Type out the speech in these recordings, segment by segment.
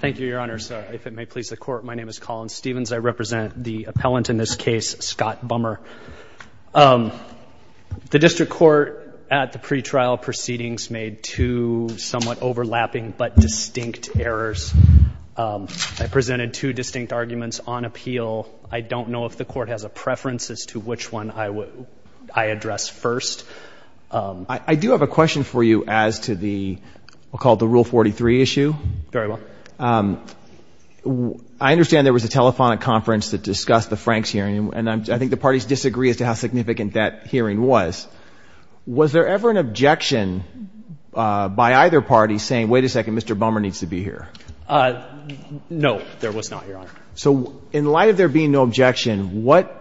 Thank you, Your Honor. If it may please the Court, my name is Colin Stevens. I represent the appellant in this case, Scott Bummer. The District Court at the pretrial proceedings made two somewhat overlapping but distinct errors. I presented two distinct arguments on appeal. I don't know if the Court has a preference as to which one I address first. I do have a question for you as to what we'll call the Rule 43 issue. Very well. I understand there was a telephonic conference that discussed the Franks hearing, and I think the parties disagree as to how significant that hearing was. Was there ever an objection by either party saying, wait a second, Mr. Bummer needs to be here? No, there was not, Your Honor. So in light of there being no objection, what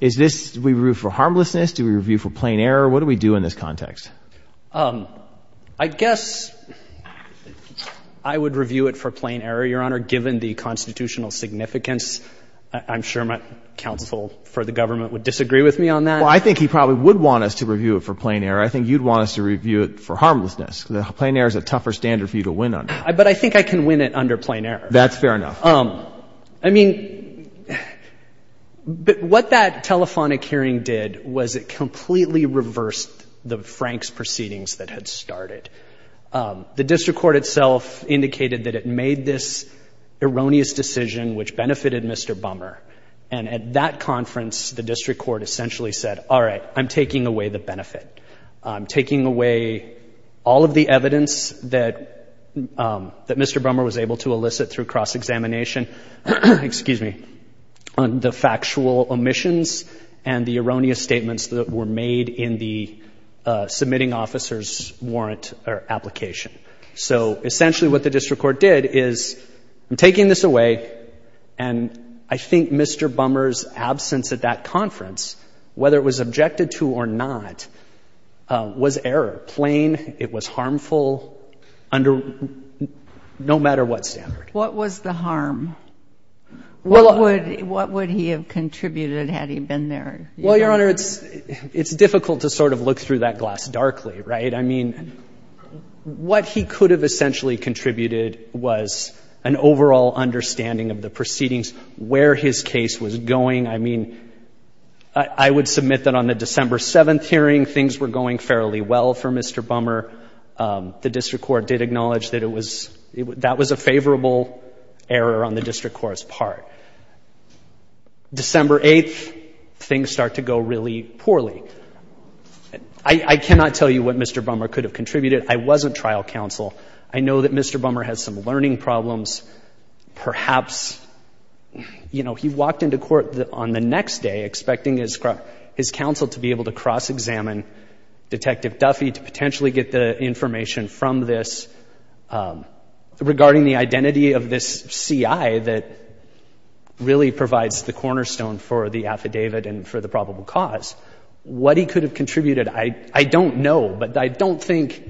is this? Do we review for harmlessness? Do we review for plain error? What do we do in this context? I guess I would review it for plain error, Your Honor, given the constitutional significance. I'm sure my counsel for the government would disagree with me on that. Well, I think he probably would want us to review it for plain error. I think you'd want us to review it for harmlessness because plain error is a tougher standard for you to win under. But I think I can win it under plain error. That's fair enough. I mean, what that telephonic hearing did was it completely reversed the Franks proceedings that had started. The district court itself indicated that it made this erroneous decision which benefited Mr. Bummer. And at that conference, the district court essentially said, all right, I'm taking away the benefit. I'm taking away all of the evidence that Mr. Bummer was able to elicit through cross-examination, excuse me, on the factual omissions and the erroneous statements that were made in the submitting officer's warrant or application. So essentially what the district court did is I'm taking this away, and I think Mr. Bummer's absence at that conference, whether it was objected to or not, was error, plain. It was harmful under no matter what standard. What was the harm? What would he have contributed had he been there? Well, Your Honor, it's difficult to sort of look through that glass darkly, right? I mean, what he could have essentially contributed was an overall understanding of the proceedings, where his case was going. I mean, I would submit that on the December 7th hearing, things were going fairly well for Mr. Bummer. The district court did acknowledge that it was, that was a favorable error on the district court's part. December 8th, things start to go really poorly. I cannot tell you what Mr. Bummer could have contributed. I wasn't trial counsel. I know that Mr. Bummer has some learning problems. Perhaps, you know, he walked into court on the next day expecting his counsel to be able to cross-examine Detective Duffy to potentially get the information from this regarding the identity of this C.I. that really provides the cornerstone for the affidavit and for the probable cause. What he could have contributed, I don't know, but I don't think,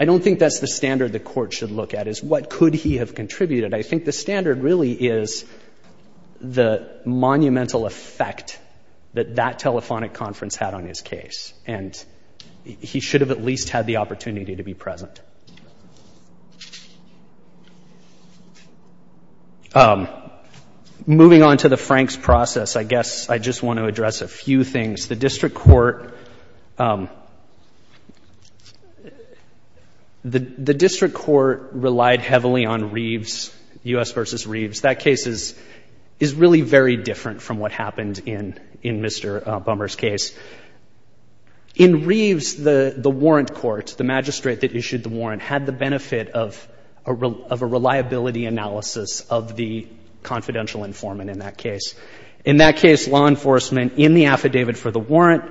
I don't think that's the standard the Court should look at, is what could he have contributed. I think the standard really is the monumental effect that that telephonic conference had on his case, and he should have at least had the opportunity to be present. Moving on to the Franks process, I guess I just want to address a few things. The district court relied heavily on Reeves, U.S. v. Reeves. That case is really very different from what happened in Mr. Bummer's case. In Reeves, the warrant court, the magistrate that issued the warrant, had the benefit of a reliability analysis of the confidential informant in that case. In that case, law enforcement, in the affidavit for the warrant,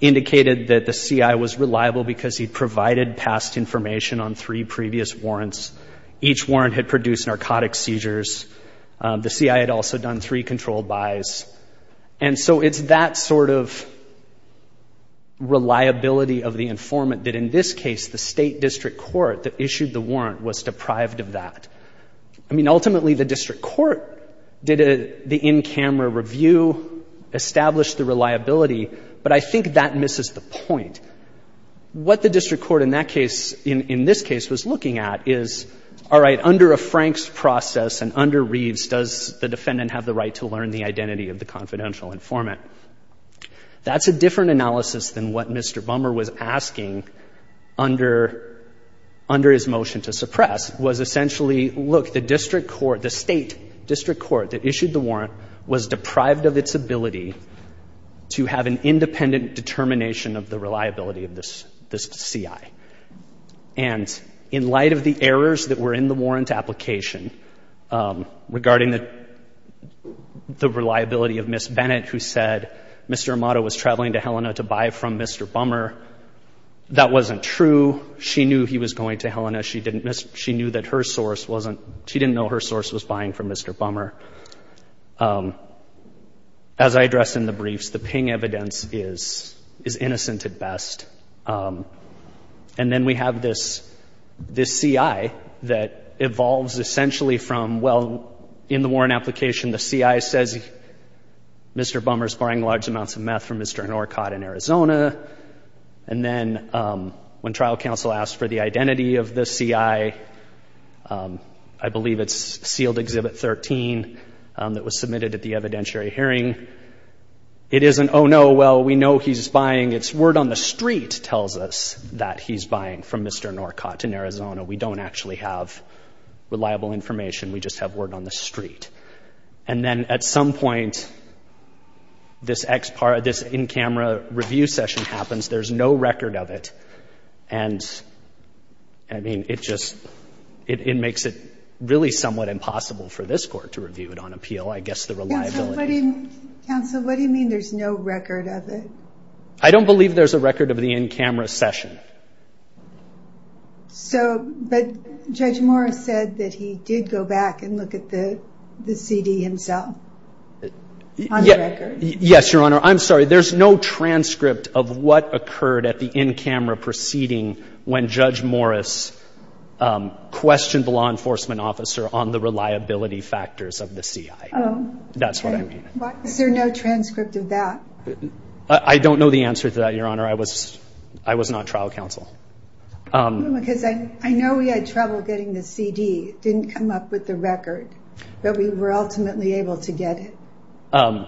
indicated that the C.I. was reliable because he provided past information on three previous warrants. Each warrant had produced narcotic seizures. The C.I. had also done three controlled buys. And so it's that sort of reliability of the informant that, in this case, the state district court that issued the warrant was deprived of that. I mean, ultimately, the district court did the in-camera review, established the reliability, but I think that misses the point. What the district court in that case, in this case, was looking at is, all right, under a Franks process and under Reeves, does the defendant have the right to learn the identity of the confidential informant? That's a different analysis than what Mr. Bummer was asking under his motion to suppress, was essentially, look, the district court, the state district court that issued the warrant, was deprived of its ability to have an independent determination of the reliability of this C.I. And in light of the errors that were in the warrant application regarding the reliability of Ms. Bennett, who said Mr. Amato was traveling to Helena to buy from Mr. Bummer, that wasn't true. She knew he was going to Helena. She knew that her source wasn't, she didn't know her source was buying from Mr. Bummer. As I addressed in the briefs, the Ping evidence is innocent at best. And then we have this C.I. that evolves essentially from, well, in the warrant application, the C.I. says Mr. Bummer's buying large amounts of meth from Mr. Anorkot in Arizona. And then when trial counsel asks for the identity of the C.I., I believe it's sealed Exhibit 13 that was submitted at the evidentiary hearing. It isn't, oh, no, well, we know he's buying. It's word on the street tells us that he's buying from Mr. Anorkot in Arizona. We don't actually have reliable information. We just have word on the street. And then at some point, this in-camera review session happens. There's no record of it. And, I mean, it just, it makes it really somewhat impossible for this court to review it on appeal. I guess the reliability. Counsel, what do you mean there's no record of it? I don't believe there's a record of the in-camera session. So, but Judge Morris said that he did go back and look at the CD himself on the record. Yes, Your Honor. I'm sorry. There's no transcript of what occurred at the in-camera proceeding when Judge Morris questioned the law enforcement officer on the reliability factors of the C.I. Oh. That's what I mean. Is there no transcript of that? I don't know the answer to that, Your Honor. I was not trial counsel. Because I know we had trouble getting the CD. It didn't come up with the record. But we were ultimately able to get it.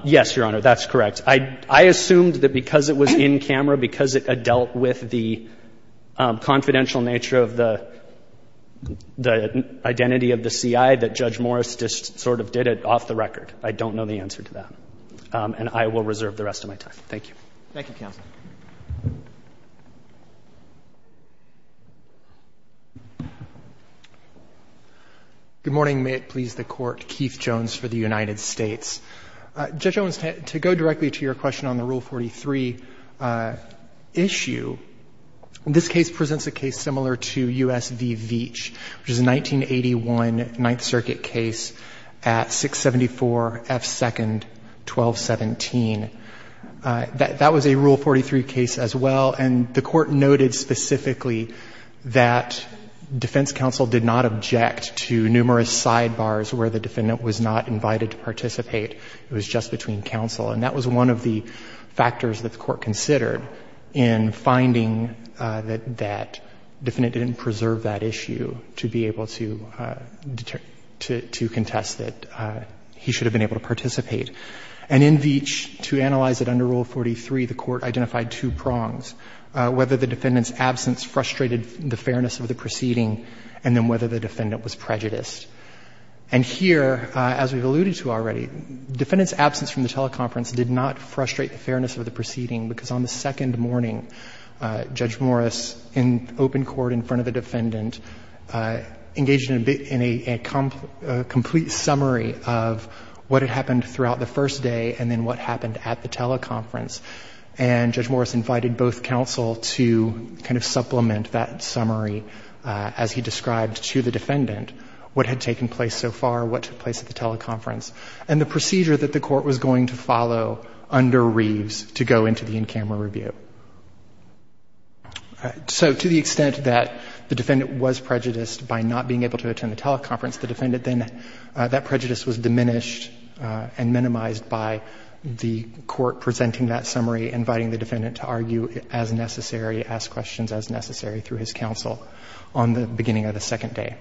Yes, Your Honor. That's correct. I assumed that because it was in-camera, because it dealt with the confidential nature of the identity of the C.I., that Judge Morris just sort of did it off the record. I don't know the answer to that. And I will reserve the rest of my time. Thank you. Thank you, counsel. Good morning. May it please the Court. Keith Jones for the United States. Judge Owens, to go directly to your question on the Rule 43 issue, this case presents a case similar to U.S. v. Veatch, which is a 1981 Ninth Circuit case at 674 F. 2nd, 1217. That was a Rule 43 case as well. And the Court noted specifically that defense counsel did not object to numerous sidebars where the defendant was not invited to participate. It was just between counsel. And that was one of the factors that the Court considered in finding that defendant didn't preserve that issue to be able to contest that he should have been able to participate. And in Veatch, to analyze it under Rule 43, the Court identified two prongs, whether the defendant's absence frustrated the fairness of the proceeding and then whether the defendant was prejudiced. And here, as we've alluded to already, defendant's absence from the teleconference did not frustrate the fairness of the proceeding, because on the second morning, Judge Morris, in open court in front of the defendant, engaged in a complete summary of what had happened throughout the first day and then what happened at the teleconference. And Judge Morris invited both counsel to kind of supplement that summary, as he described to the defendant, what had taken place so far, what took place at the teleconference, and the procedure that the Court was going to follow under Reeves to go into the in-camera review. So to the extent that the defendant was prejudiced by not being able to attend the teleconference, that prejudice was diminished and minimized by the Court presenting that summary, inviting the defendant to argue as necessary, ask questions as necessary through his counsel on the beginning of the second day.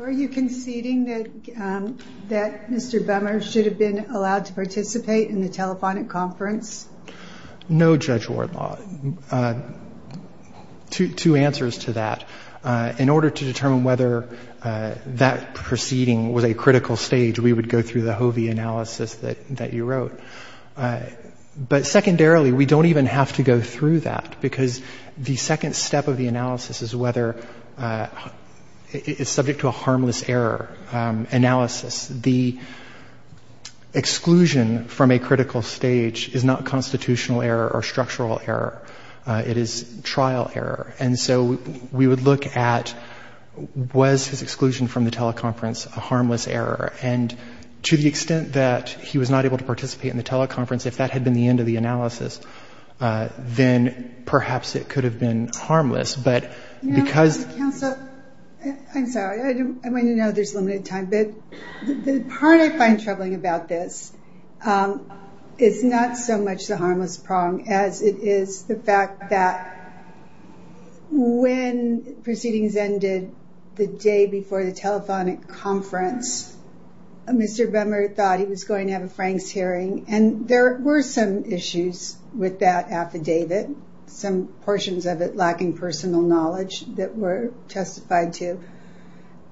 Are you conceding that Mr. Bummer should have been allowed to participate in the telephonic conference? No, Judge Wardlaw. Two answers to that. In order to determine whether that proceeding was a critical stage, we would go through the Hovey analysis that you wrote. But secondarily, we don't even have to go through that, because the second step of the analysis is whether it's subject to a harmless error analysis. The exclusion from a critical stage is not constitutional error or structural error. It is trial error. And so we would look at, was his exclusion from the teleconference a harmless error? And to the extent that he was not able to participate in the teleconference, if that had been the end of the analysis, then perhaps it could have been harmless. But because — Counsel, I'm sorry. I want you to know there's limited time. The part I find troubling about this is not so much the harmless prong as it is the fact that when proceedings ended the day before the telephonic conference, Mr. Bummer thought he was going to have a Franks hearing. And there were some issues with that affidavit, some portions of it lacking personal knowledge that were testified to.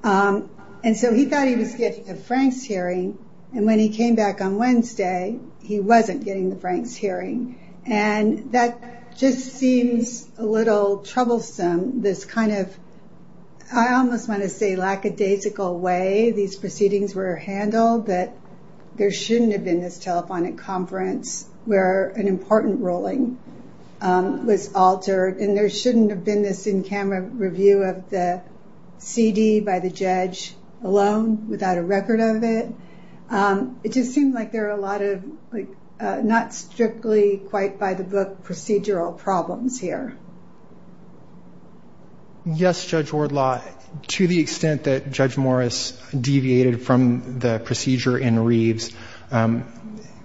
And so he thought he was getting the Franks hearing, and when he came back on Wednesday, he wasn't getting the Franks hearing. And that just seems a little troublesome, this kind of, I almost want to say lackadaisical way these proceedings were handled, that there shouldn't have been this telephonic conference where an important ruling was altered, and there wasn't a CD by the judge alone without a record of it. It just seemed like there were a lot of not strictly quite by-the-book procedural problems here. Yes, Judge Wardlaw, to the extent that Judge Morris deviated from the procedure in Reeves,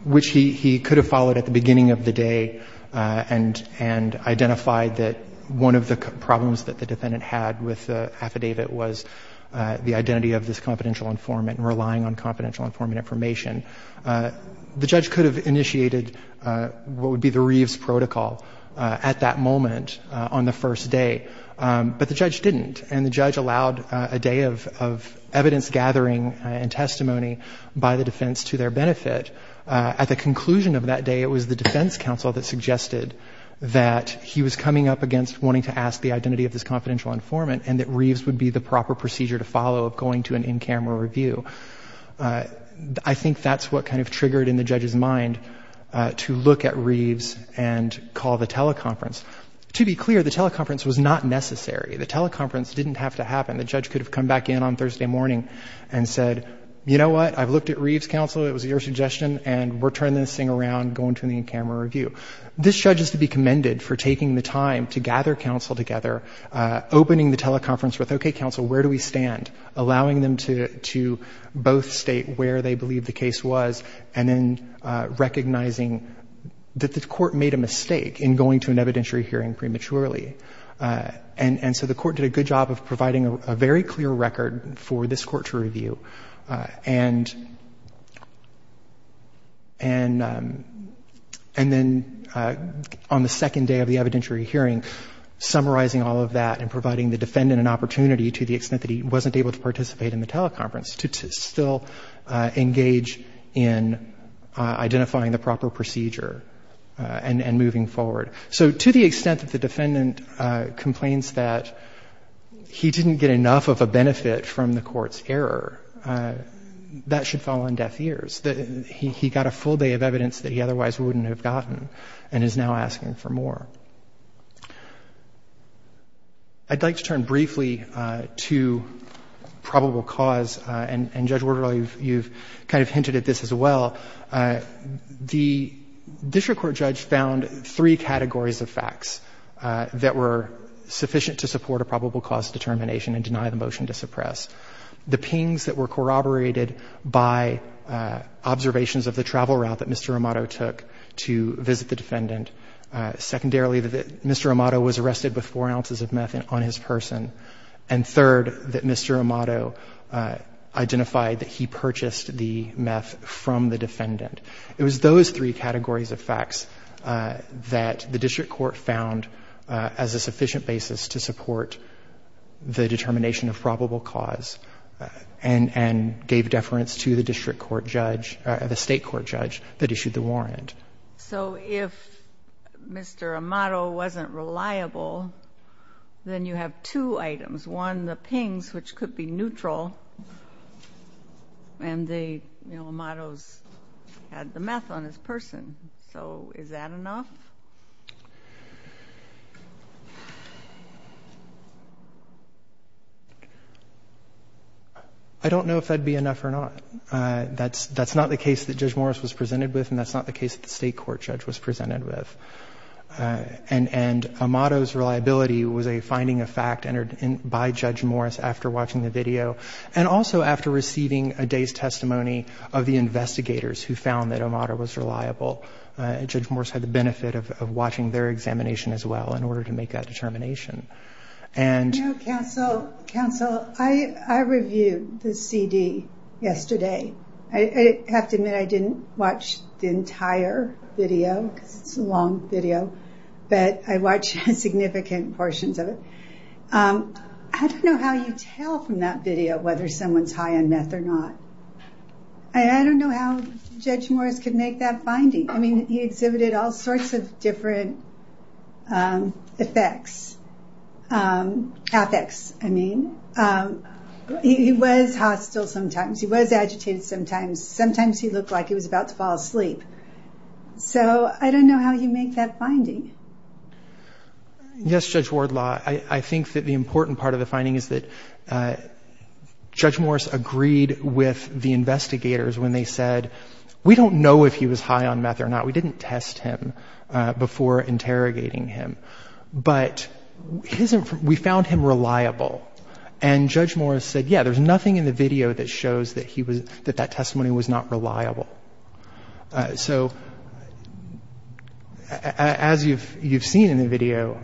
which he could have followed at the beginning of the day and identified that one of the problems that the defendant had with the affidavit was the identity of this confidential informant and relying on confidential informant information, the judge could have initiated what would be the Reeves protocol at that moment on the first day, but the judge didn't. And the judge allowed a day of evidence-gathering and testimony by the defense to their benefit. At the conclusion of that day, it was the defense counsel that suggested that he was coming up against wanting to ask the identity of this confidential informant and that Reeves would be the proper procedure to follow of going to an in-camera review. I think that's what kind of triggered in the judge's mind to look at Reeves and call the teleconference. To be clear, the teleconference was not necessary. The teleconference didn't have to happen. The judge could have come back in on Thursday morning and said, you know what, I've looked at Reeves, counsel, it was your suggestion, and we're turning this thing around, going to an in-camera review. This judge is to be commended for taking the time to gather counsel together, opening the teleconference with, okay, counsel, where do we stand, allowing them to both state where they believe the case was, and then recognizing that the court made a mistake in going to an evidentiary hearing prematurely. And so the court did a good job of providing a very clear record for this court to review. And then on the second day of the evidentiary hearing, summarizing all of that and providing the defendant an opportunity to the extent that he wasn't able to participate in the teleconference to still engage in identifying the proper procedure and moving forward. So to the extent that the defendant complains that he didn't get enough of a benefit from the court's error, that should fall on deaf ears. He got a full day of evidence that he otherwise wouldn't have gotten and is now asking for more. I'd like to turn briefly to probable cause. And, Judge Warder, you've kind of hinted at this as well. The district court judge found three categories of facts that were sufficient to support a probable cause determination and deny the motion to suppress. The pings that were corroborated by observations of the travel route that Mr. Amato took to visit the defendant. Secondarily, that Mr. Amato was arrested with four ounces of meth on his person. And third, that Mr. Amato identified that he purchased the meth from the defendant. It was those three categories of facts that the district court found as a sufficient basis to support the determination of probable cause and gave deference to the district court judge, the state court judge that issued the warrant. So if Mr. Amato wasn't reliable, then you have two items. One, the pings, which could be neutral, and the, you know, Amato's had the meth on his person. So is that enough? I don't know if that would be enough or not. That's not the case that Judge Morris was presented with and that's not the case that the state court judge was presented with. And Amato's reliability was a finding of fact entered by Judge Morris after watching the video and also after receiving a day's testimony of the investigators who found that Amato was reliable. Judge Morris had the benefit of watching their examination as well in order to make that determination. And... No, counsel. Counsel, I reviewed the CD yesterday. I have to admit I didn't watch the entire video because it's a long video, but I watched significant portions of it. I don't know how you tell from that video whether someone's high on meth or not. I don't know how Judge Morris could make that finding. I mean, he exhibited all sorts of different effects, ethics, I mean. He was hostile sometimes. He was agitated sometimes. Sometimes he looked like he was about to fall asleep. So I don't know how you make that finding. Yes, Judge Wardlaw. I think that the important part of the finding is that Judge Morris agreed with the investigators when they said, we don't know if he was high on meth or not. We didn't test him before interrogating him. But we found him reliable. And Judge Morris said, yeah, there's nothing in the video that shows that that testimony was not reliable. So as you've seen in the video,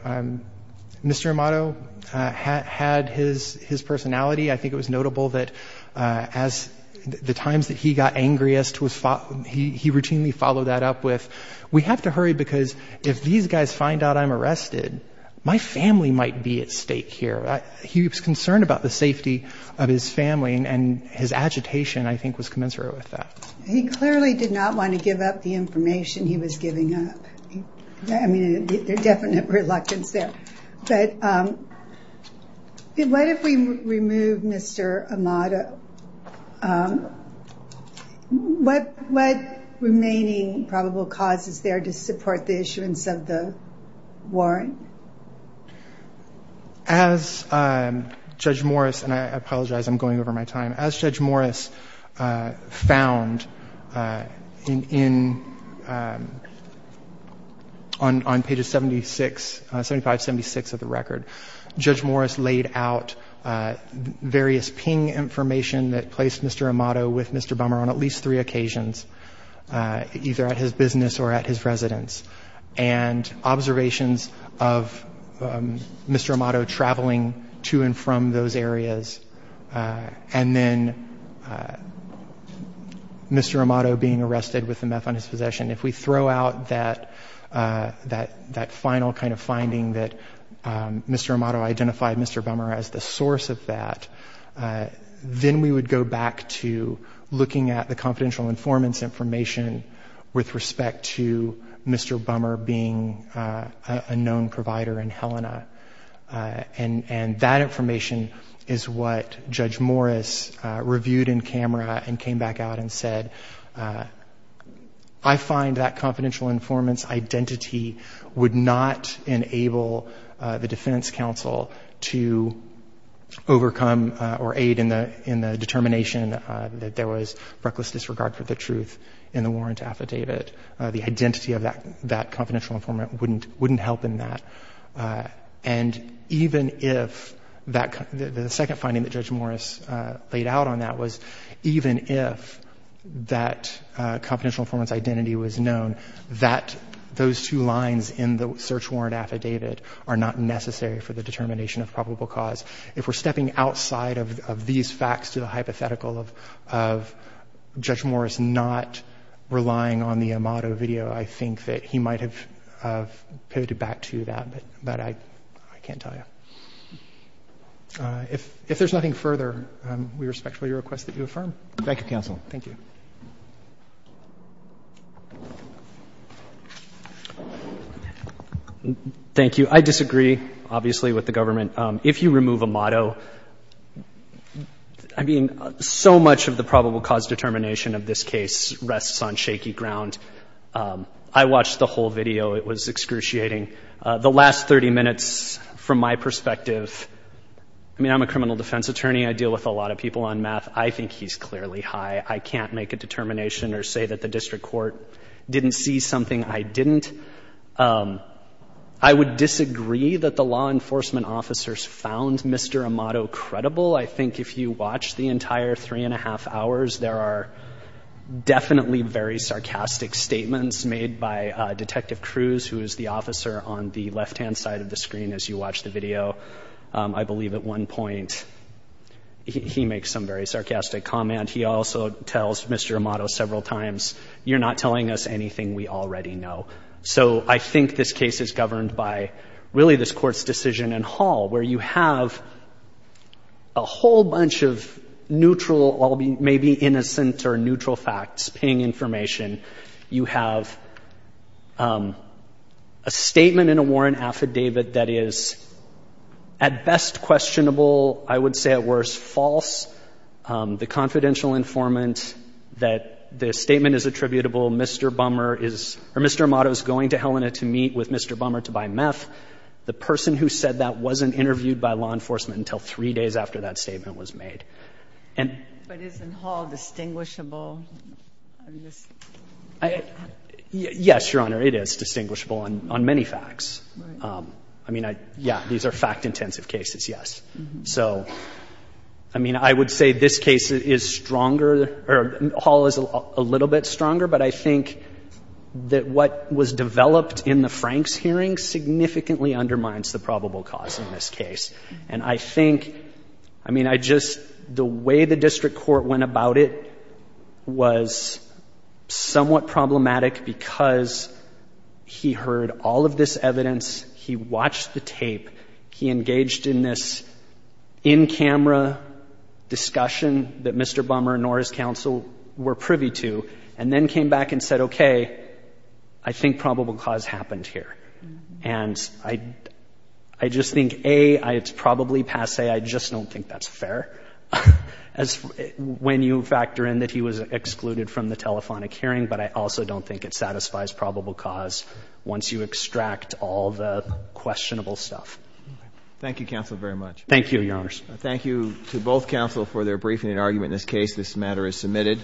Mr. Amato had his personality. I think it was notable that the times that he got angriest, he routinely followed that up with, we have to hurry because if these guys find out I'm arrested, my family might be at stake here. He was concerned about the safety of his family, and his agitation, I think, was commensurate with that. He clearly did not want to give up the information he was giving up. I mean, there's definite reluctance there. But what if we remove Mr. Amato? What remaining probable cause is there to support the issuance of the warrant? As Judge Morris, and I apologize, I'm going over my time. As Judge Morris found on page 76, 7576 of the record, Judge Morris laid out various ping information that placed Mr. Amato with Mr. Bummer on at least three occasions, either at his business or at his residence, and observations of Mr. Amato traveling to and from those areas, and then Mr. Amato being arrested with the meth on his possession. If we throw out that final kind of finding that Mr. Amato identified Mr. Bummer as the source of that, then we would go back to looking at the confidential informants information with respect to Mr. Bummer being a known provider in Helena. And that information is what Judge Morris reviewed in camera and came back out and said, I find that confidential informants identity would not enable the defense counsel to overcome or aid in the determination that there was reckless disregard for the truth in the warrant affidavit. The identity of that confidential informant wouldn't help in that. And even if that — the second finding that Judge Morris laid out on that was even if that confidential informants identity was known, that those two lines in the search warrant affidavit are not necessary for the determination of probable cause. If we're stepping outside of these facts to the hypothetical of Judge Morris not relying on the Amato video, I think that he might have pivoted back to that. But I can't tell you. If there's nothing further, we respectfully request that you affirm. Thank you, counsel. Thank you. Thank you. I disagree, obviously, with the government. If you remove Amato, I mean, so much of the probable cause determination of this case rests on shaky ground. I watched the whole video. It was excruciating. The last 30 minutes, from my perspective, I mean, I'm a criminal defense attorney. I deal with a lot of people on math. I think he's clearly high. I can't make a determination or say that the district court didn't see something I didn't. I would disagree that the law enforcement officers found Mr. Amato credible. I think if you watch the entire three and a half hours, there are definitely very sarcastic statements made by Detective Cruz, who is the officer on the left-hand side of the screen as you watch the video. I believe at one point he makes some very sarcastic comment. He also tells Mr. Amato several times, you're not telling us anything we already know. So I think this case is governed by, really, this Court's decision in Hall, where you have a whole bunch of neutral, maybe innocent or neutral facts, ping information. You have a statement in a warrant affidavit that is, at best, questionable. I would say, at worst, false. The confidential informant, that the statement is attributable. Mr. Amato is going to Helena to meet with Mr. Bummer to buy meth. The person who said that wasn't interviewed by law enforcement until three days after that statement was made. And... But isn't Hall distinguishable? Yes, Your Honor, it is distinguishable on many facts. I mean, yeah, these are fact-intensive cases, yes. So, I mean, I would say this case is stronger, or Hall is a little bit stronger. But I think that what was developed in the Franks hearing significantly undermines the probable cause in this case. And I think, I mean, I just, the way the district court went about it was somewhat problematic because he heard all of this evidence, he watched the tape, he engaged in this in-camera discussion that Mr. Bummer nor his counsel were privy to, and then came back and said, okay, I think probable cause happened here. And I just think, A, it's probably passe. I just don't think that's fair when you factor in that he was excluded from the telephonic hearing, but I also don't think it satisfies probable cause once you extract all the questionable stuff. Thank you, counsel, very much. Thank you, Your Honors. Thank you to both counsel for their briefing and argument in this case. This matter is submitted.